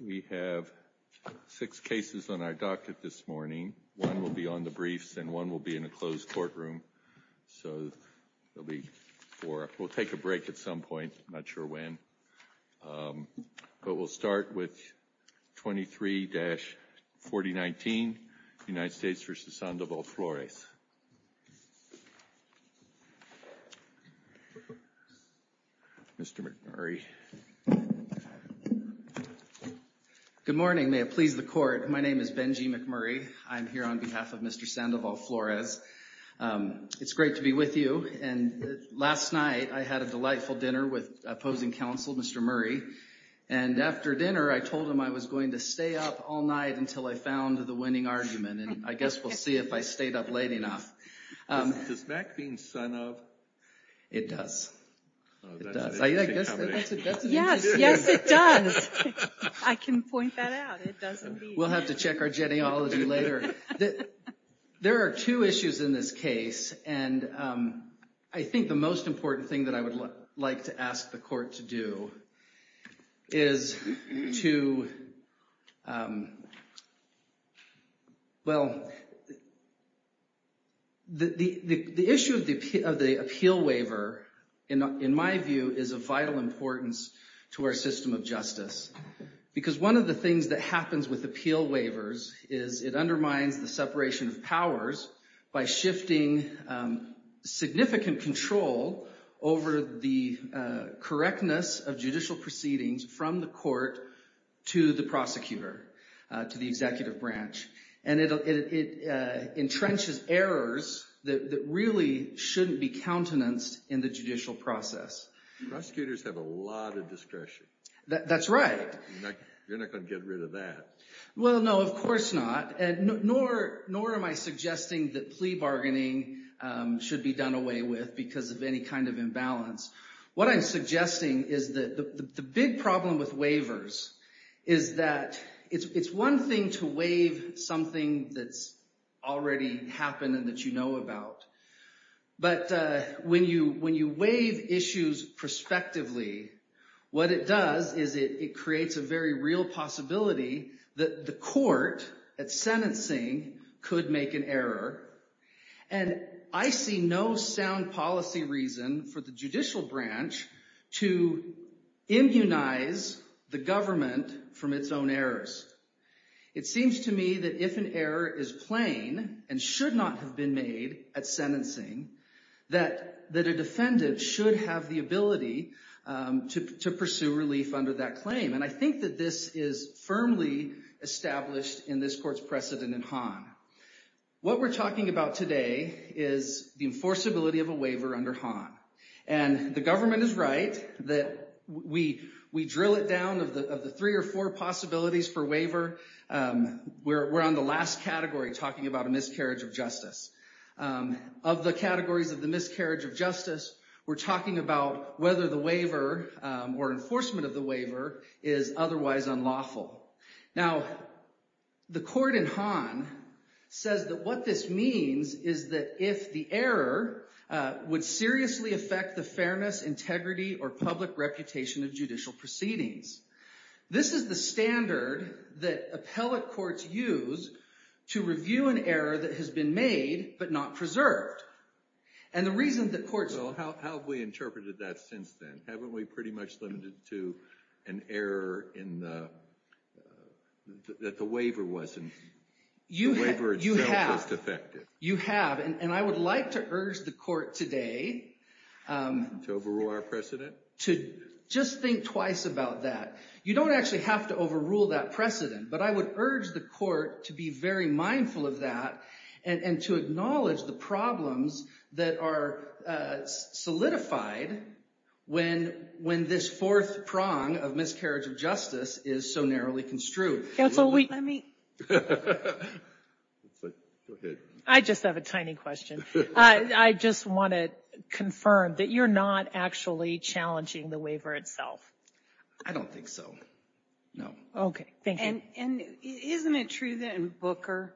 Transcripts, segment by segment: We have six cases on our docket this morning. One will be on the briefs, and one will be in a closed courtroom. So there'll be four. We'll take a break at some point, not sure when. But we'll start with 23-4019, United States v. Sandoval-Flores. Mr. McMurray. Good morning. May it please the court. My name is Benji McMurray. I'm here on behalf of Mr. Sandoval-Flores. It's great to be with you. And last night, I had a delightful dinner with opposing counsel, Mr. Murray. And after dinner, I told him I was going to stay up all night until I found the winning argument. I guess we'll see if I stayed up late enough. Does Mac mean son of? It does. That's an interesting combination. Yes. Yes, it does. I can point that out. It does indeed. We'll have to check our genealogy later. There are two issues in this case, and I think the most important thing that I would like to ask the court to do is to, well, the issue of the appeal waiver, in my view, is of vital importance to our system of justice. Because one of the things that happens with appeal waivers is it undermines the separation of powers by shifting significant control over the correctness of judicial proceedings from the court to the prosecutor, to the executive branch. And it entrenches errors that really shouldn't be countenanced in the judicial process. Prosecutors have a lot of discretion. That's right. You're not going to get rid of that. Well, no. Of course not. Nor am I suggesting that plea bargaining should be done away with because of any kind of imbalance. What I'm suggesting is that the big problem with waivers is that it's one thing to waive something that's already happened and that you know about. But when you waive issues prospectively, what it does is it creates a very real possibility that the court, at sentencing, could make an error. And I see no sound policy reason for the judicial branch to immunize the government from its own errors. It seems to me that if an error is plain and should not have been made at sentencing, that a defendant should have the ability to pursue relief under that claim. And I think that this is firmly established in this court's precedent in Hahn. What we're talking about today is the enforceability of a waiver under Hahn. And the government is right that we drill it down of the three or four possibilities for waiver. We're on the last category talking about a miscarriage of justice. Of the categories of the miscarriage of justice, we're talking about whether the waiver or enforcement of the waiver is otherwise unlawful. Now, the court in Hahn says that what this means is that if the error would seriously affect the fairness, integrity, or public reputation of judicial proceedings. This is the standard that appellate courts use to review an error that has been made but not preserved. And the reason that courts- Well, how have we interpreted that since then? Haven't we pretty much limited to an error in the- that the waiver wasn't- You have- The waiver itself is defective. You have. And I would like to urge the court today- To overrule our precedent? Just think twice about that. You don't actually have to overrule that precedent. But I would urge the court to be very mindful of that and to acknowledge the problems that are solidified when this fourth prong of miscarriage of justice is so narrowly construed. Counsel, we- Let me- Go ahead. I just have a tiny question. I just want to confirm that you're not actually challenging the waiver itself? I don't think so. No. Okay. Thank you. And isn't it true that in Booker,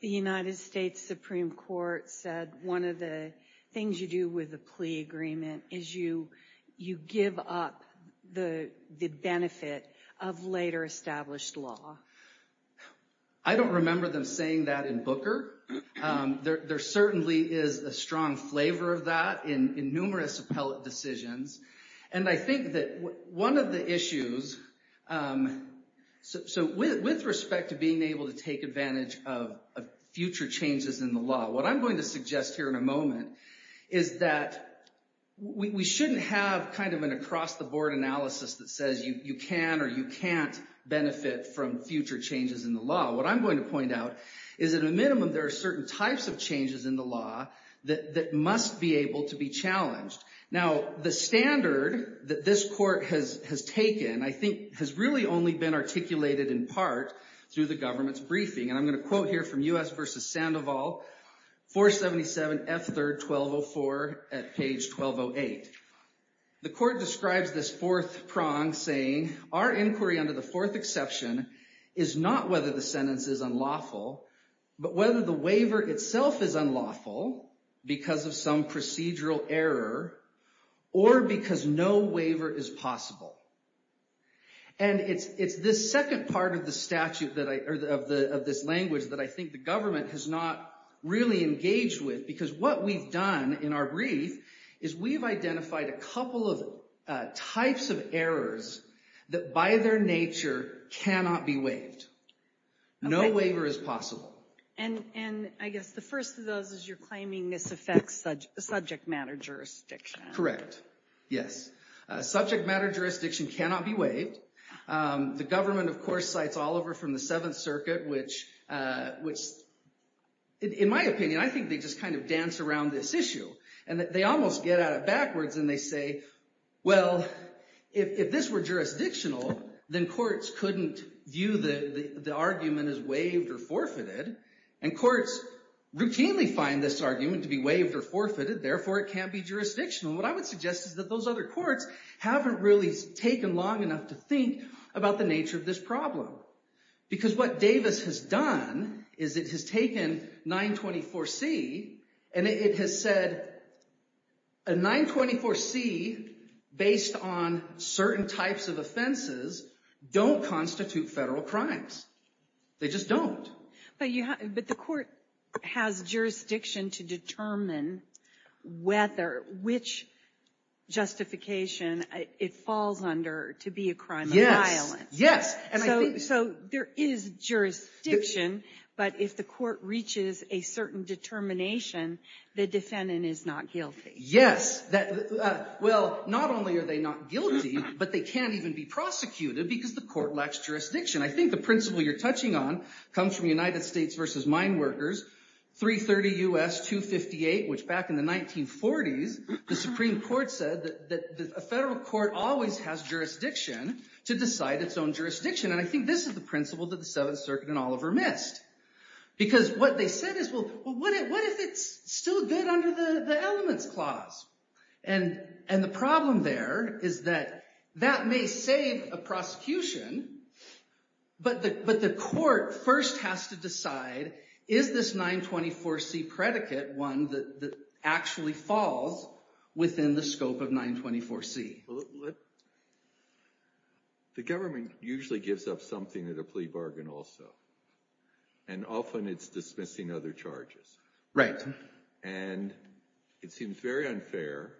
the United States Supreme Court said one of the things you do with a plea agreement is you give up the benefit of later established law? I don't remember them saying that in Booker. There certainly is a strong flavor of that in numerous appellate decisions. And I think that one of the issues- So with respect to being able to take advantage of future changes in the law, what I'm going to suggest here in a moment is that we shouldn't have kind of an across-the-board analysis that says you can or you can't benefit from future changes in the law. What I'm going to point out is at a minimum there are certain types of changes in the law that must be able to be challenged. Now, the standard that this court has taken, I think, has really only been articulated in part through the government's briefing. And I'm going to quote here from U.S. v. Sandoval, 477 F. 3rd 1204 at page 1208. The court describes this fourth prong saying, our inquiry under the fourth exception is not whether the sentence is unlawful, but whether the waiver itself is unlawful because of some procedural error, or because no waiver is possible. And it's this second part of the statute, of this language, that I think the government has not really engaged with. Because what we've done in our brief is we've identified a couple of types of errors that by their nature cannot be waived. No waiver is possible. And I guess the first of those is you're claiming this affects subject matter jurisdiction. Yes. Subject matter jurisdiction cannot be waived. The government, of course, cites Oliver from the Seventh Circuit, which, in my opinion, I think they just kind of dance around this issue. And they almost get at it backwards, and they say, well, if this were jurisdictional, then courts couldn't view the argument as waived or forfeited. And courts routinely find this argument to be waived or forfeited. Therefore, it can't be jurisdictional. What I would suggest is that those other courts haven't really taken long enough to think about the nature of this problem. Because what Davis has done is it has taken 924C, and it has said, a 924C based on certain types of offenses don't constitute federal crimes. They just don't. But the court has jurisdiction to determine which justification it falls under to be a crime of violence. Yes. Yes. So there is jurisdiction, but if the court reaches a certain determination, the defendant is not guilty. Yes. Well, not only are they not guilty, but they can't even be prosecuted, because the court lacks jurisdiction. I think the principle you're touching on comes from United States versus Mine Workers, 330 U.S. 258, which back in the 1940s, the Supreme Court said that a federal court always has jurisdiction to decide its own jurisdiction. And I think this is the principle that the Seventh Circuit and Oliver missed. Because what they said is, well, what if it's still good under the Elements Clause? And the problem there is that that may save a prosecution, but the court first has to decide, is this 924C predicate one that actually falls within the scope of 924C? Well, the government usually gives up something at a plea bargain also, and often it's dismissing other charges. Right. And it seems very unfair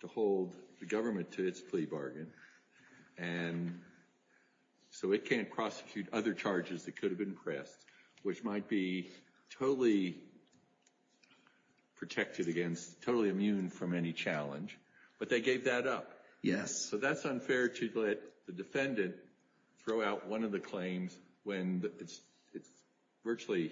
to hold the government to its plea bargain, and so it can't prosecute other charges that could have been pressed, which might be totally protected against, totally immune from any challenge. But they gave that up. Yes. So that's unfair to let the defendant throw out one of the claims when it's virtually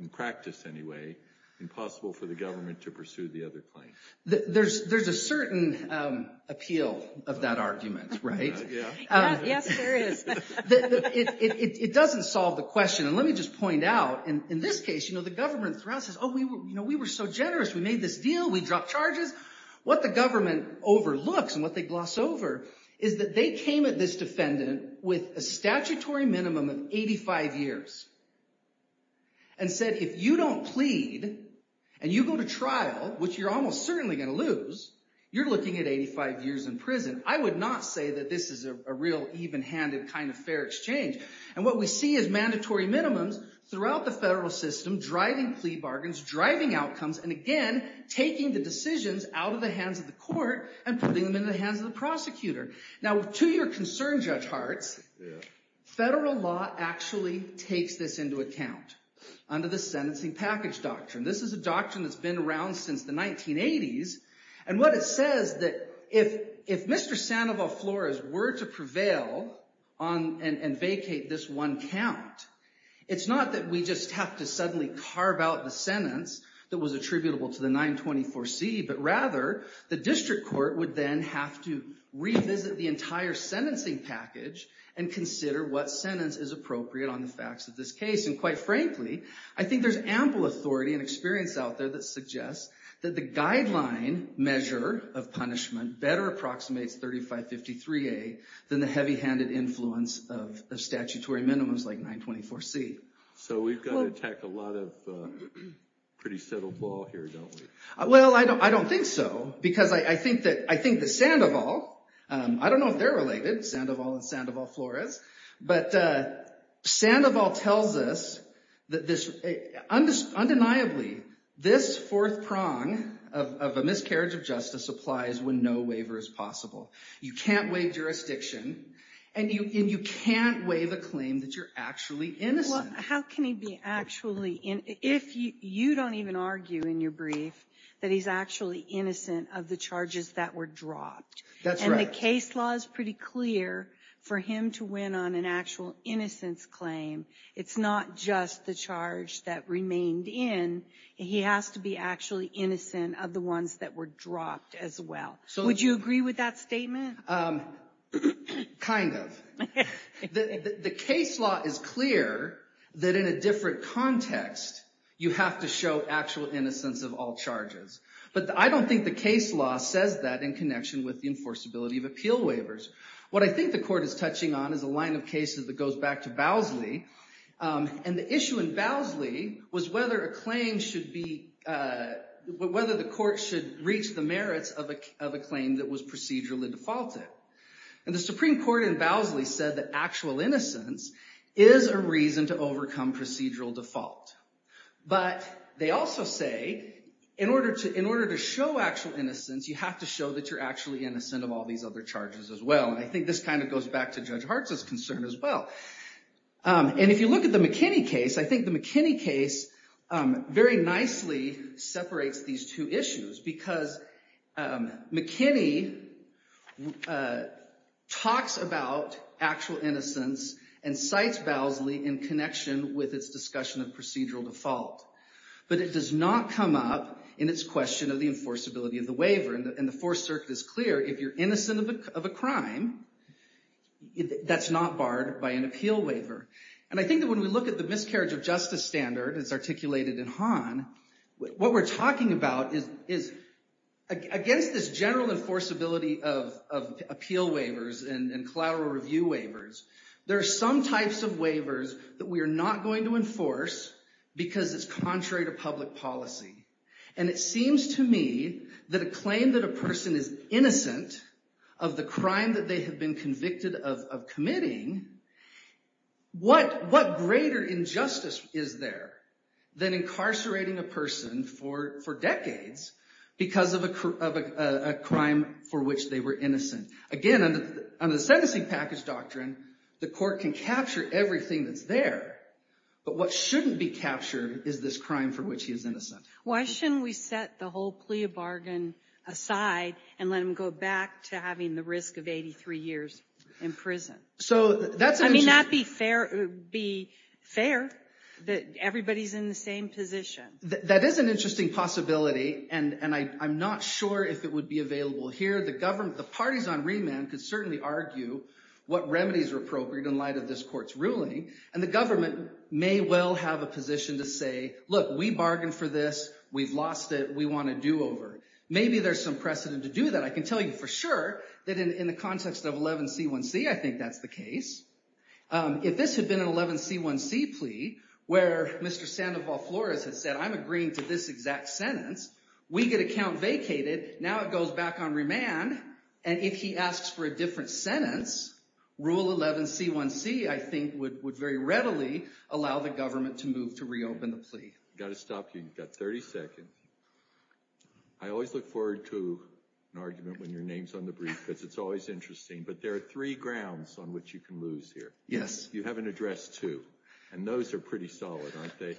in practice anyway, impossible for the government to pursue the other claim. There's a certain appeal of that argument, right? Yes, there is. It doesn't solve the question. And let me just point out, in this case, you know, the government says, oh, we were so generous, we made this deal, we dropped charges. What the government overlooks and what they gloss over is that they came at this defendant with a statutory minimum of 85 years and said, if you don't plead and you go to trial, which you're almost certainly going to lose, you're looking at 85 years in prison. I would not say that this is a real even-handed kind of fair exchange. And what we see is mandatory minimums throughout the federal system driving plea bargains, driving outcomes, and again, taking the decisions out of the hands of the court and putting them in the hands of the prosecutor. Now to your concern, Judge Hartz, federal law actually takes this into account under the sentencing package doctrine. This is a doctrine that's been around since the 1980s. And what it says that if Mr. Sandoval Flores were to prevail and vacate this one count, it's not that we just have to suddenly carve out the sentence that was attributable to the 924C, but rather, the district court would then have to revisit the entire sentencing package and consider what sentence is appropriate on the facts of this case. And quite frankly, I think there's ample authority and experience out there that suggests that the guideline measure of punishment better approximates 3553A than the heavy-handed influence of statutory minimums like 924C. So we've got to attack a lot of pretty settled ball here, don't we? Well, I don't think so. Because I think that Sandoval, I don't know if they're related, Sandoval and Sandoval Flores, but Sandoval tells us that undeniably, this fourth prong of a miscarriage of justice applies when no waiver is possible. You can't waive jurisdiction, and you can't waive a claim that you're actually innocent. How can he be actually, if you don't even argue in your brief that he's actually innocent of the charges that were dropped? That's right. And the case law is pretty clear for him to win on an actual innocence claim. It's not just the charge that remained in. He has to be actually innocent of the ones that were dropped as well. Would you agree with that statement? Kind of. The case law is clear that in a different context, you have to show actual innocence of all charges. But I don't think the case law says that in connection with the enforceability of appeal waivers. What I think the court is touching on is a line of cases that goes back to Bowsley. And the issue in Bowsley was whether a claim should be, whether the court should reach the merits of a claim that was procedurally defaulted. And the Supreme Court in Bowsley said that actual innocence is a reason to overcome procedural default. But they also say in order to show actual innocence, you have to show that you're actually innocent of all these other charges as well. And I think this kind of goes back to Judge Hartz's concern as well. And if you look at the McKinney case, I think the McKinney case very nicely separates these two issues. Because McKinney talks about actual innocence and cites Bowsley in connection with its discussion of procedural default. But it does not come up in its question of the enforceability of the waiver. And the Fourth Circuit is clear, if you're innocent of a crime, that's not barred by an appeal waiver. And I think that when we look at the miscarriage of justice standard as articulated in Hahn, what we're talking about is against this general enforceability of appeal waivers and collateral review waivers, there are some types of waivers that we are not going to enforce because it's contrary to public policy. And it seems to me that a claim that a person is innocent of the crime that they have been convicted of committing, what greater injustice is there than incarcerating a person for decades because of a crime for which they were innocent? Again, under the sentencing package doctrine, the court can capture everything that's there. But what shouldn't be captured is this crime for which he is innocent. Why shouldn't we set the whole plea of bargain aside and let him go back to having the risk of 83 years in prison? So that's an interesting... I mean, that'd be fair that everybody's in the same position. That is an interesting possibility, and I'm not sure if it would be available here. The government, the parties on remand could certainly argue what remedies are appropriate in light of this court's ruling. And the government may well have a position to say, look, we bargained for this. We've lost it. We want a do-over. Maybe there's some precedent to do that. I can tell you for sure that in the context of 11C1C, I think that's the case. If this had been an 11C1C plea where Mr. Sandoval-Flores had said, I'm agreeing to this exact sentence, we get a count vacated. Now it goes back on remand. And if he asks for a different sentence, Rule 11C1C, I think, would very readily allow the government to move to reopen the plea. I've got to stop you. You've got 30 seconds. I always look forward to an argument when your name's on the brief, because it's always interesting. But there are three grounds on which you can lose here. Yes. You have an address, too. And those are pretty solid, aren't they?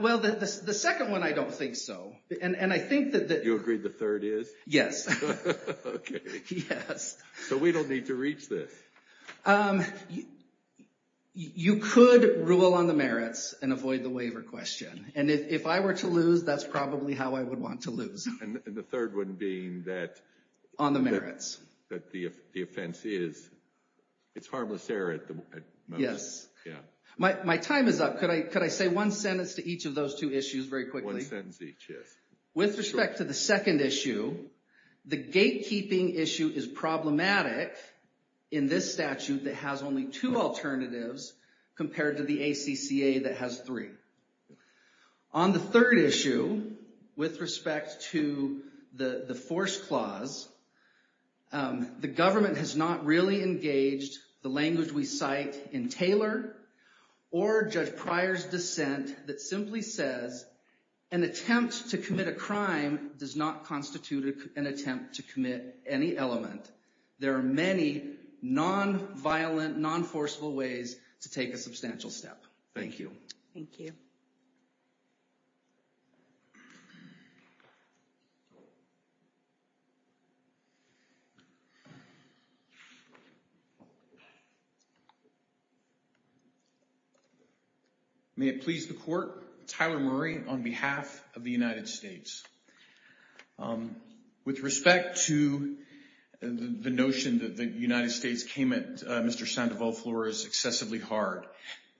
Well, the second one, I don't think so. And I think that... You agree the third is? Yes. Okay. Yes. So we don't need to reach this. You could rule on the merits and avoid the waiver question. And if I were to lose, that's probably how I would want to lose. And the third one being that... On the merits. That the offense is... It's harmless error at the most. Yes. My time is up. Could I say one sentence to each of those two issues very quickly? One sentence each, yes. With respect to the second issue, the gatekeeping issue is problematic in this statute that has only two alternatives compared to the ACCA that has three. On the third issue, with respect to the force clause, the government has not really engaged the language we cite in Taylor or Judge Pryor's dissent that simply says, an attempt to commit a crime does not constitute an attempt to commit any element. There are many non-violent, non-forceful ways to take a substantial step. Thank you. Thank you. May it please the court, Tyler Murray on behalf of the United States. With respect to the notion that the United States came at Mr. Sandoval-Flores excessively hard,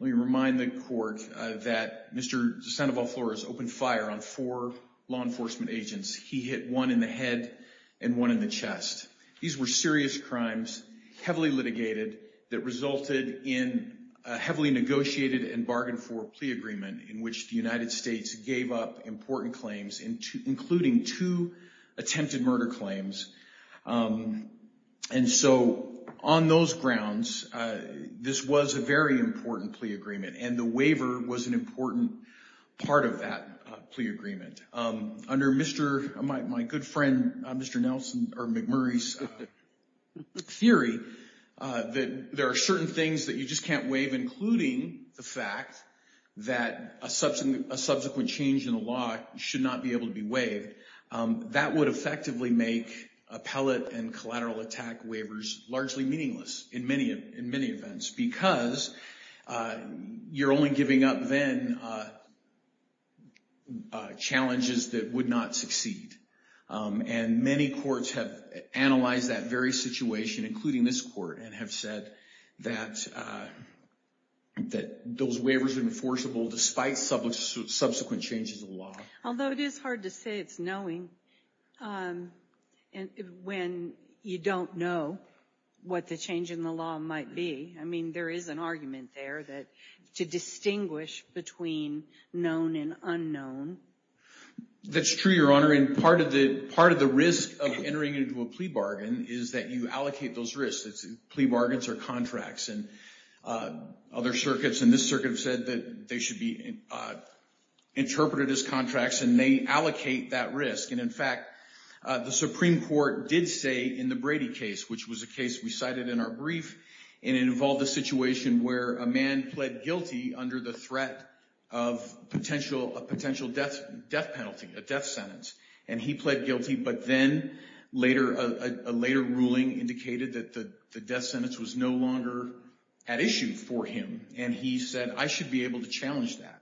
let me remind the court that Mr. Sandoval-Flores opened fire on four law enforcement agents. He hit one in the head and one in the chest. These were serious crimes, heavily litigated, that resulted in a heavily negotiated and bargained for plea agreement in which the United States gave up important claims, including two attempted murder claims. And so, on those grounds, this was a very important plea agreement and the waiver was an important part of that plea agreement. Under my good friend, Mr. McMurray's theory, that there are certain things that you just can't waive, including the fact that a subsequent change in a law should not be able to be waived. That would effectively make appellate and collateral attack waivers largely meaningless in many events because you're only giving up then challenges that would not succeed. And many courts have analyzed that very situation, including this court, and have said that those waivers are enforceable despite subsequent changes in the law. Although it is hard to say it's knowing when you don't know what the change in the law might be. I mean, there is an argument there that to distinguish between known and unknown. That's true, Your Honor, and part of the risk of entering into a plea bargain is that you allocate those risks. Plea bargains are contracts, and other circuits, and this circuit, have said that they should be interpreted as contracts, and they allocate that risk. And in fact, the Supreme Court did say in the Brady case, which was a case we cited in our brief, and it involved a situation where a man pled guilty under the threat of potential death penalty, a death sentence. And he pled guilty, but then a later ruling indicated that the death sentence was no longer at issue for him, and he said, I should be able to challenge that.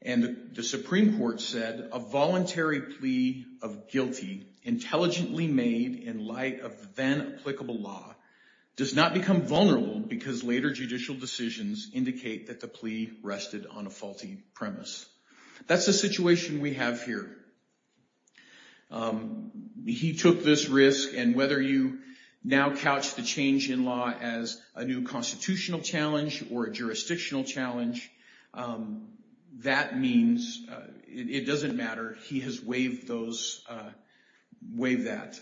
And the Supreme Court said, a voluntary plea of guilty, intelligently made in light of then applicable law, does not become vulnerable because later judicial decisions indicate that the plea rested on a faulty premise. That's the situation we have here. He took this risk, and whether you now couch the change in law as a new constitutional challenge, or a jurisdictional challenge, that means it doesn't matter. He has waived those, waived that.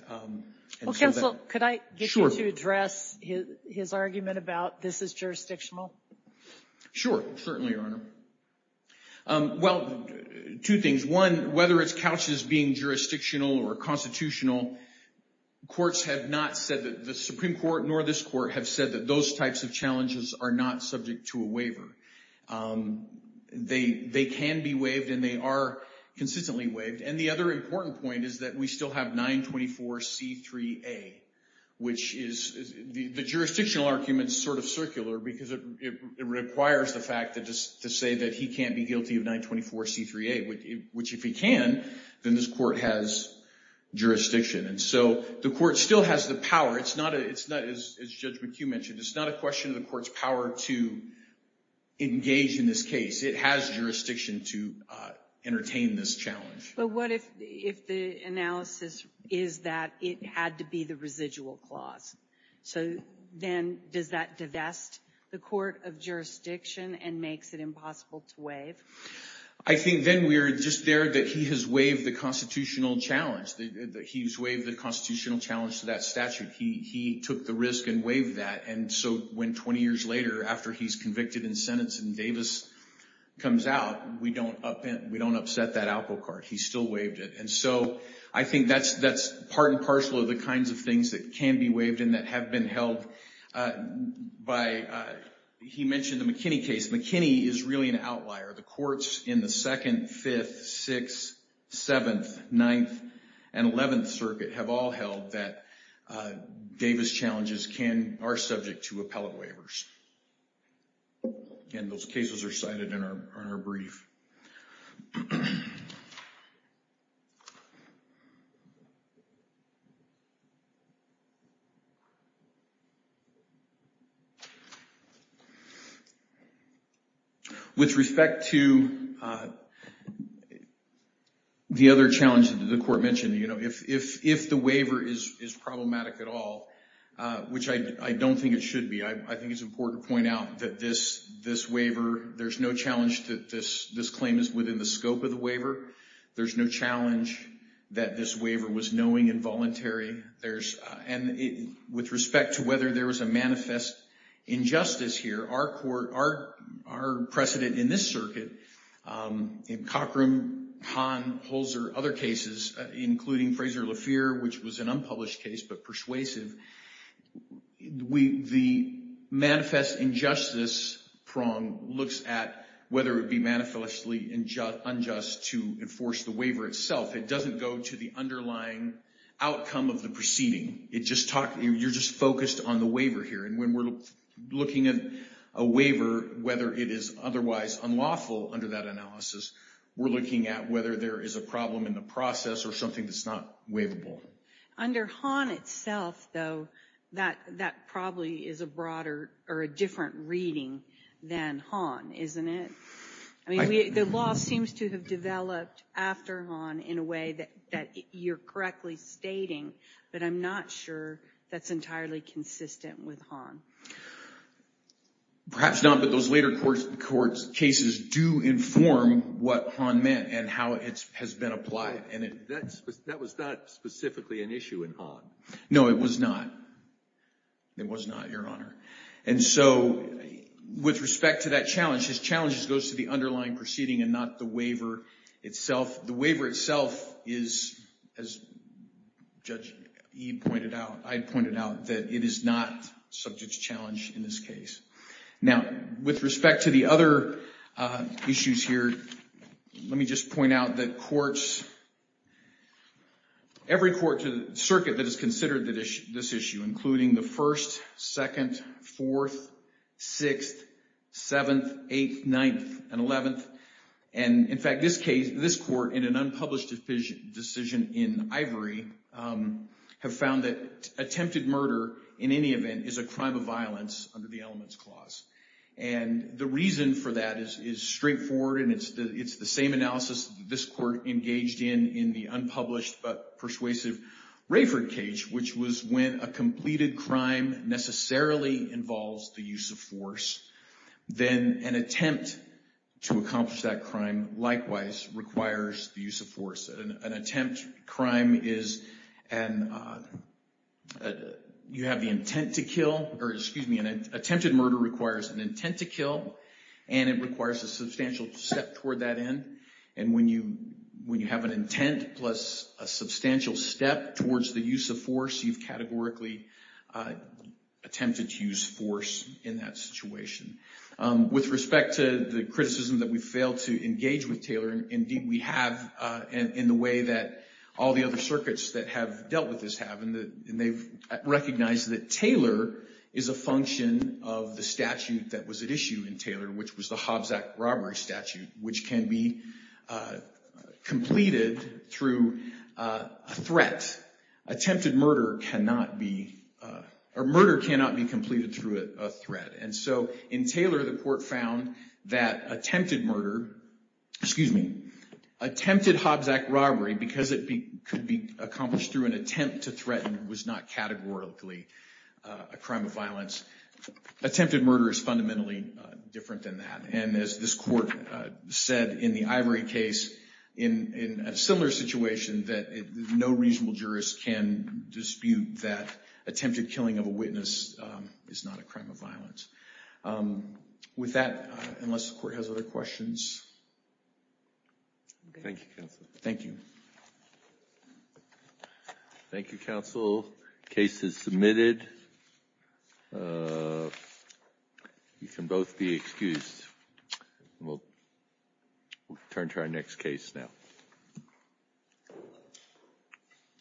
Well, Counsel, could I get you to address his argument about this is jurisdictional? Sure, certainly, Your Honor. Well, two things. One, whether it's couched as being jurisdictional or constitutional, the Supreme Court nor this court have said that those types of challenges are not subject to a waiver. They can be waived, and they are consistently waived. And the other important point is that we still have 924C3A, which is, the jurisdictional argument is sort of circular because it requires the fact to say that he can't be guilty of 924C3A, which if he can, then this court has jurisdiction. And so the court still has the power. It's not, as Judge McHugh mentioned, it's not a question of the court's power to engage in this case. It has jurisdiction to entertain this challenge. But what if the analysis is that it had to be the residual clause? So then does that divest the court of jurisdiction and makes it impossible to waive? I think then we're just there that he has waived the constitutional challenge, that he's waived the constitutional challenge to that statute. He took the risk and waived that. And so when 20 years later, after he's convicted and sentenced and Davis comes out, we don't upset that Alpocart. He still waived it. And so I think that's part and parcel of the kinds of things that can be waived and that have been held by, he mentioned the McKinney case. McKinney is really an outlier. The courts in the Second, Fifth, Sixth, Seventh, Ninth, and Eleventh Circuit have all held that Davis challenges are subject to appellate waivers. And those cases are cited in our brief. With respect to the other challenge that the court mentioned, you know, if the waiver is problematic at all, which I don't think it should be, I think it's important to point out that this waiver, there's no challenge that this claim is within the scope of the waiver. There's no challenge that this waiver was knowing involuntary. There's, and with respect to whether there was a manifest injustice here, our court, our precedent in this circuit, in Cockrum, Hahn, Holzer, other cases, including Fraser LaFeer, which was an unpublished case but persuasive, the manifest injustice prong looks at whether it would be manifestly unjust to enforce the waiver itself. It doesn't go to the underlying outcome of the proceeding. It just talks, you're just focused on the waiver here. And when we're looking at a waiver, whether it is otherwise unlawful under that analysis, we're looking at whether there is a problem in the process or something that's not waivable. Under Hahn itself, though, that probably is a broader or a different reading than Hahn, isn't it? I mean, the law seems to have developed after Hahn in a way that you're correctly stating, but I'm not sure that's entirely consistent with Hahn. Perhaps not, but those later court cases do inform what Hahn meant and how it has been applied. And that was not specifically an issue in Hahn. No, it was not. It was not, Your Honor. And so with respect to that challenge, his challenge goes to the underlying proceeding and not the waiver itself. The waiver itself is, as Judge E pointed out, I pointed out that it is not subject to challenge in this case. Now, with respect to the other issues here, let me just point out that courts, every court, every circuit that has considered this issue, including the 1st, 2nd, 4th, 6th, 7th, 8th, 9th, and 11th, and in fact this case, this court, in an unpublished decision in Ivory, have found that attempted murder, in any event, is a crime of violence under the Elements Clause. And the reason for that is straightforward and it's the same analysis that this court engaged in in the unpublished but persuasive Rayford Cage, which was when a completed crime necessarily involves the use of force, then an attempt to accomplish that crime likewise requires the use of force. An attempt crime is, you have the intent to kill, or excuse me, an attempted murder requires an intent to kill, and it requires a substantial step toward that end. And when you have an intent plus a substantial step towards the use of force, you've categorically attempted to use force in that situation. With respect to the criticism that we failed to engage with Taylor, indeed we have in the way that all the other circuits that have dealt with this have, and they've recognized that Taylor is a function of the statute that was at issue in Taylor, which was the Hobbs Act robbery statute, which can be completed through a threat. Attempted murder cannot be, or murder cannot be completed through a threat. And so in Taylor, the court found that attempted murder, excuse me, attempted Hobbs Act robbery, because it could be accomplished through an attempt to threaten, was not categorically a crime of violence. Attempted murder is fundamentally different than that. And as this court said in the Ivory case, in a similar situation, that no reasonable jurist can dispute that attempted killing of a witness is not a crime of violence. With that, unless the court has other questions. Thank you, counsel. Thank you. Thank you, counsel. Case is submitted. You can both be excused. We'll turn to our next case now.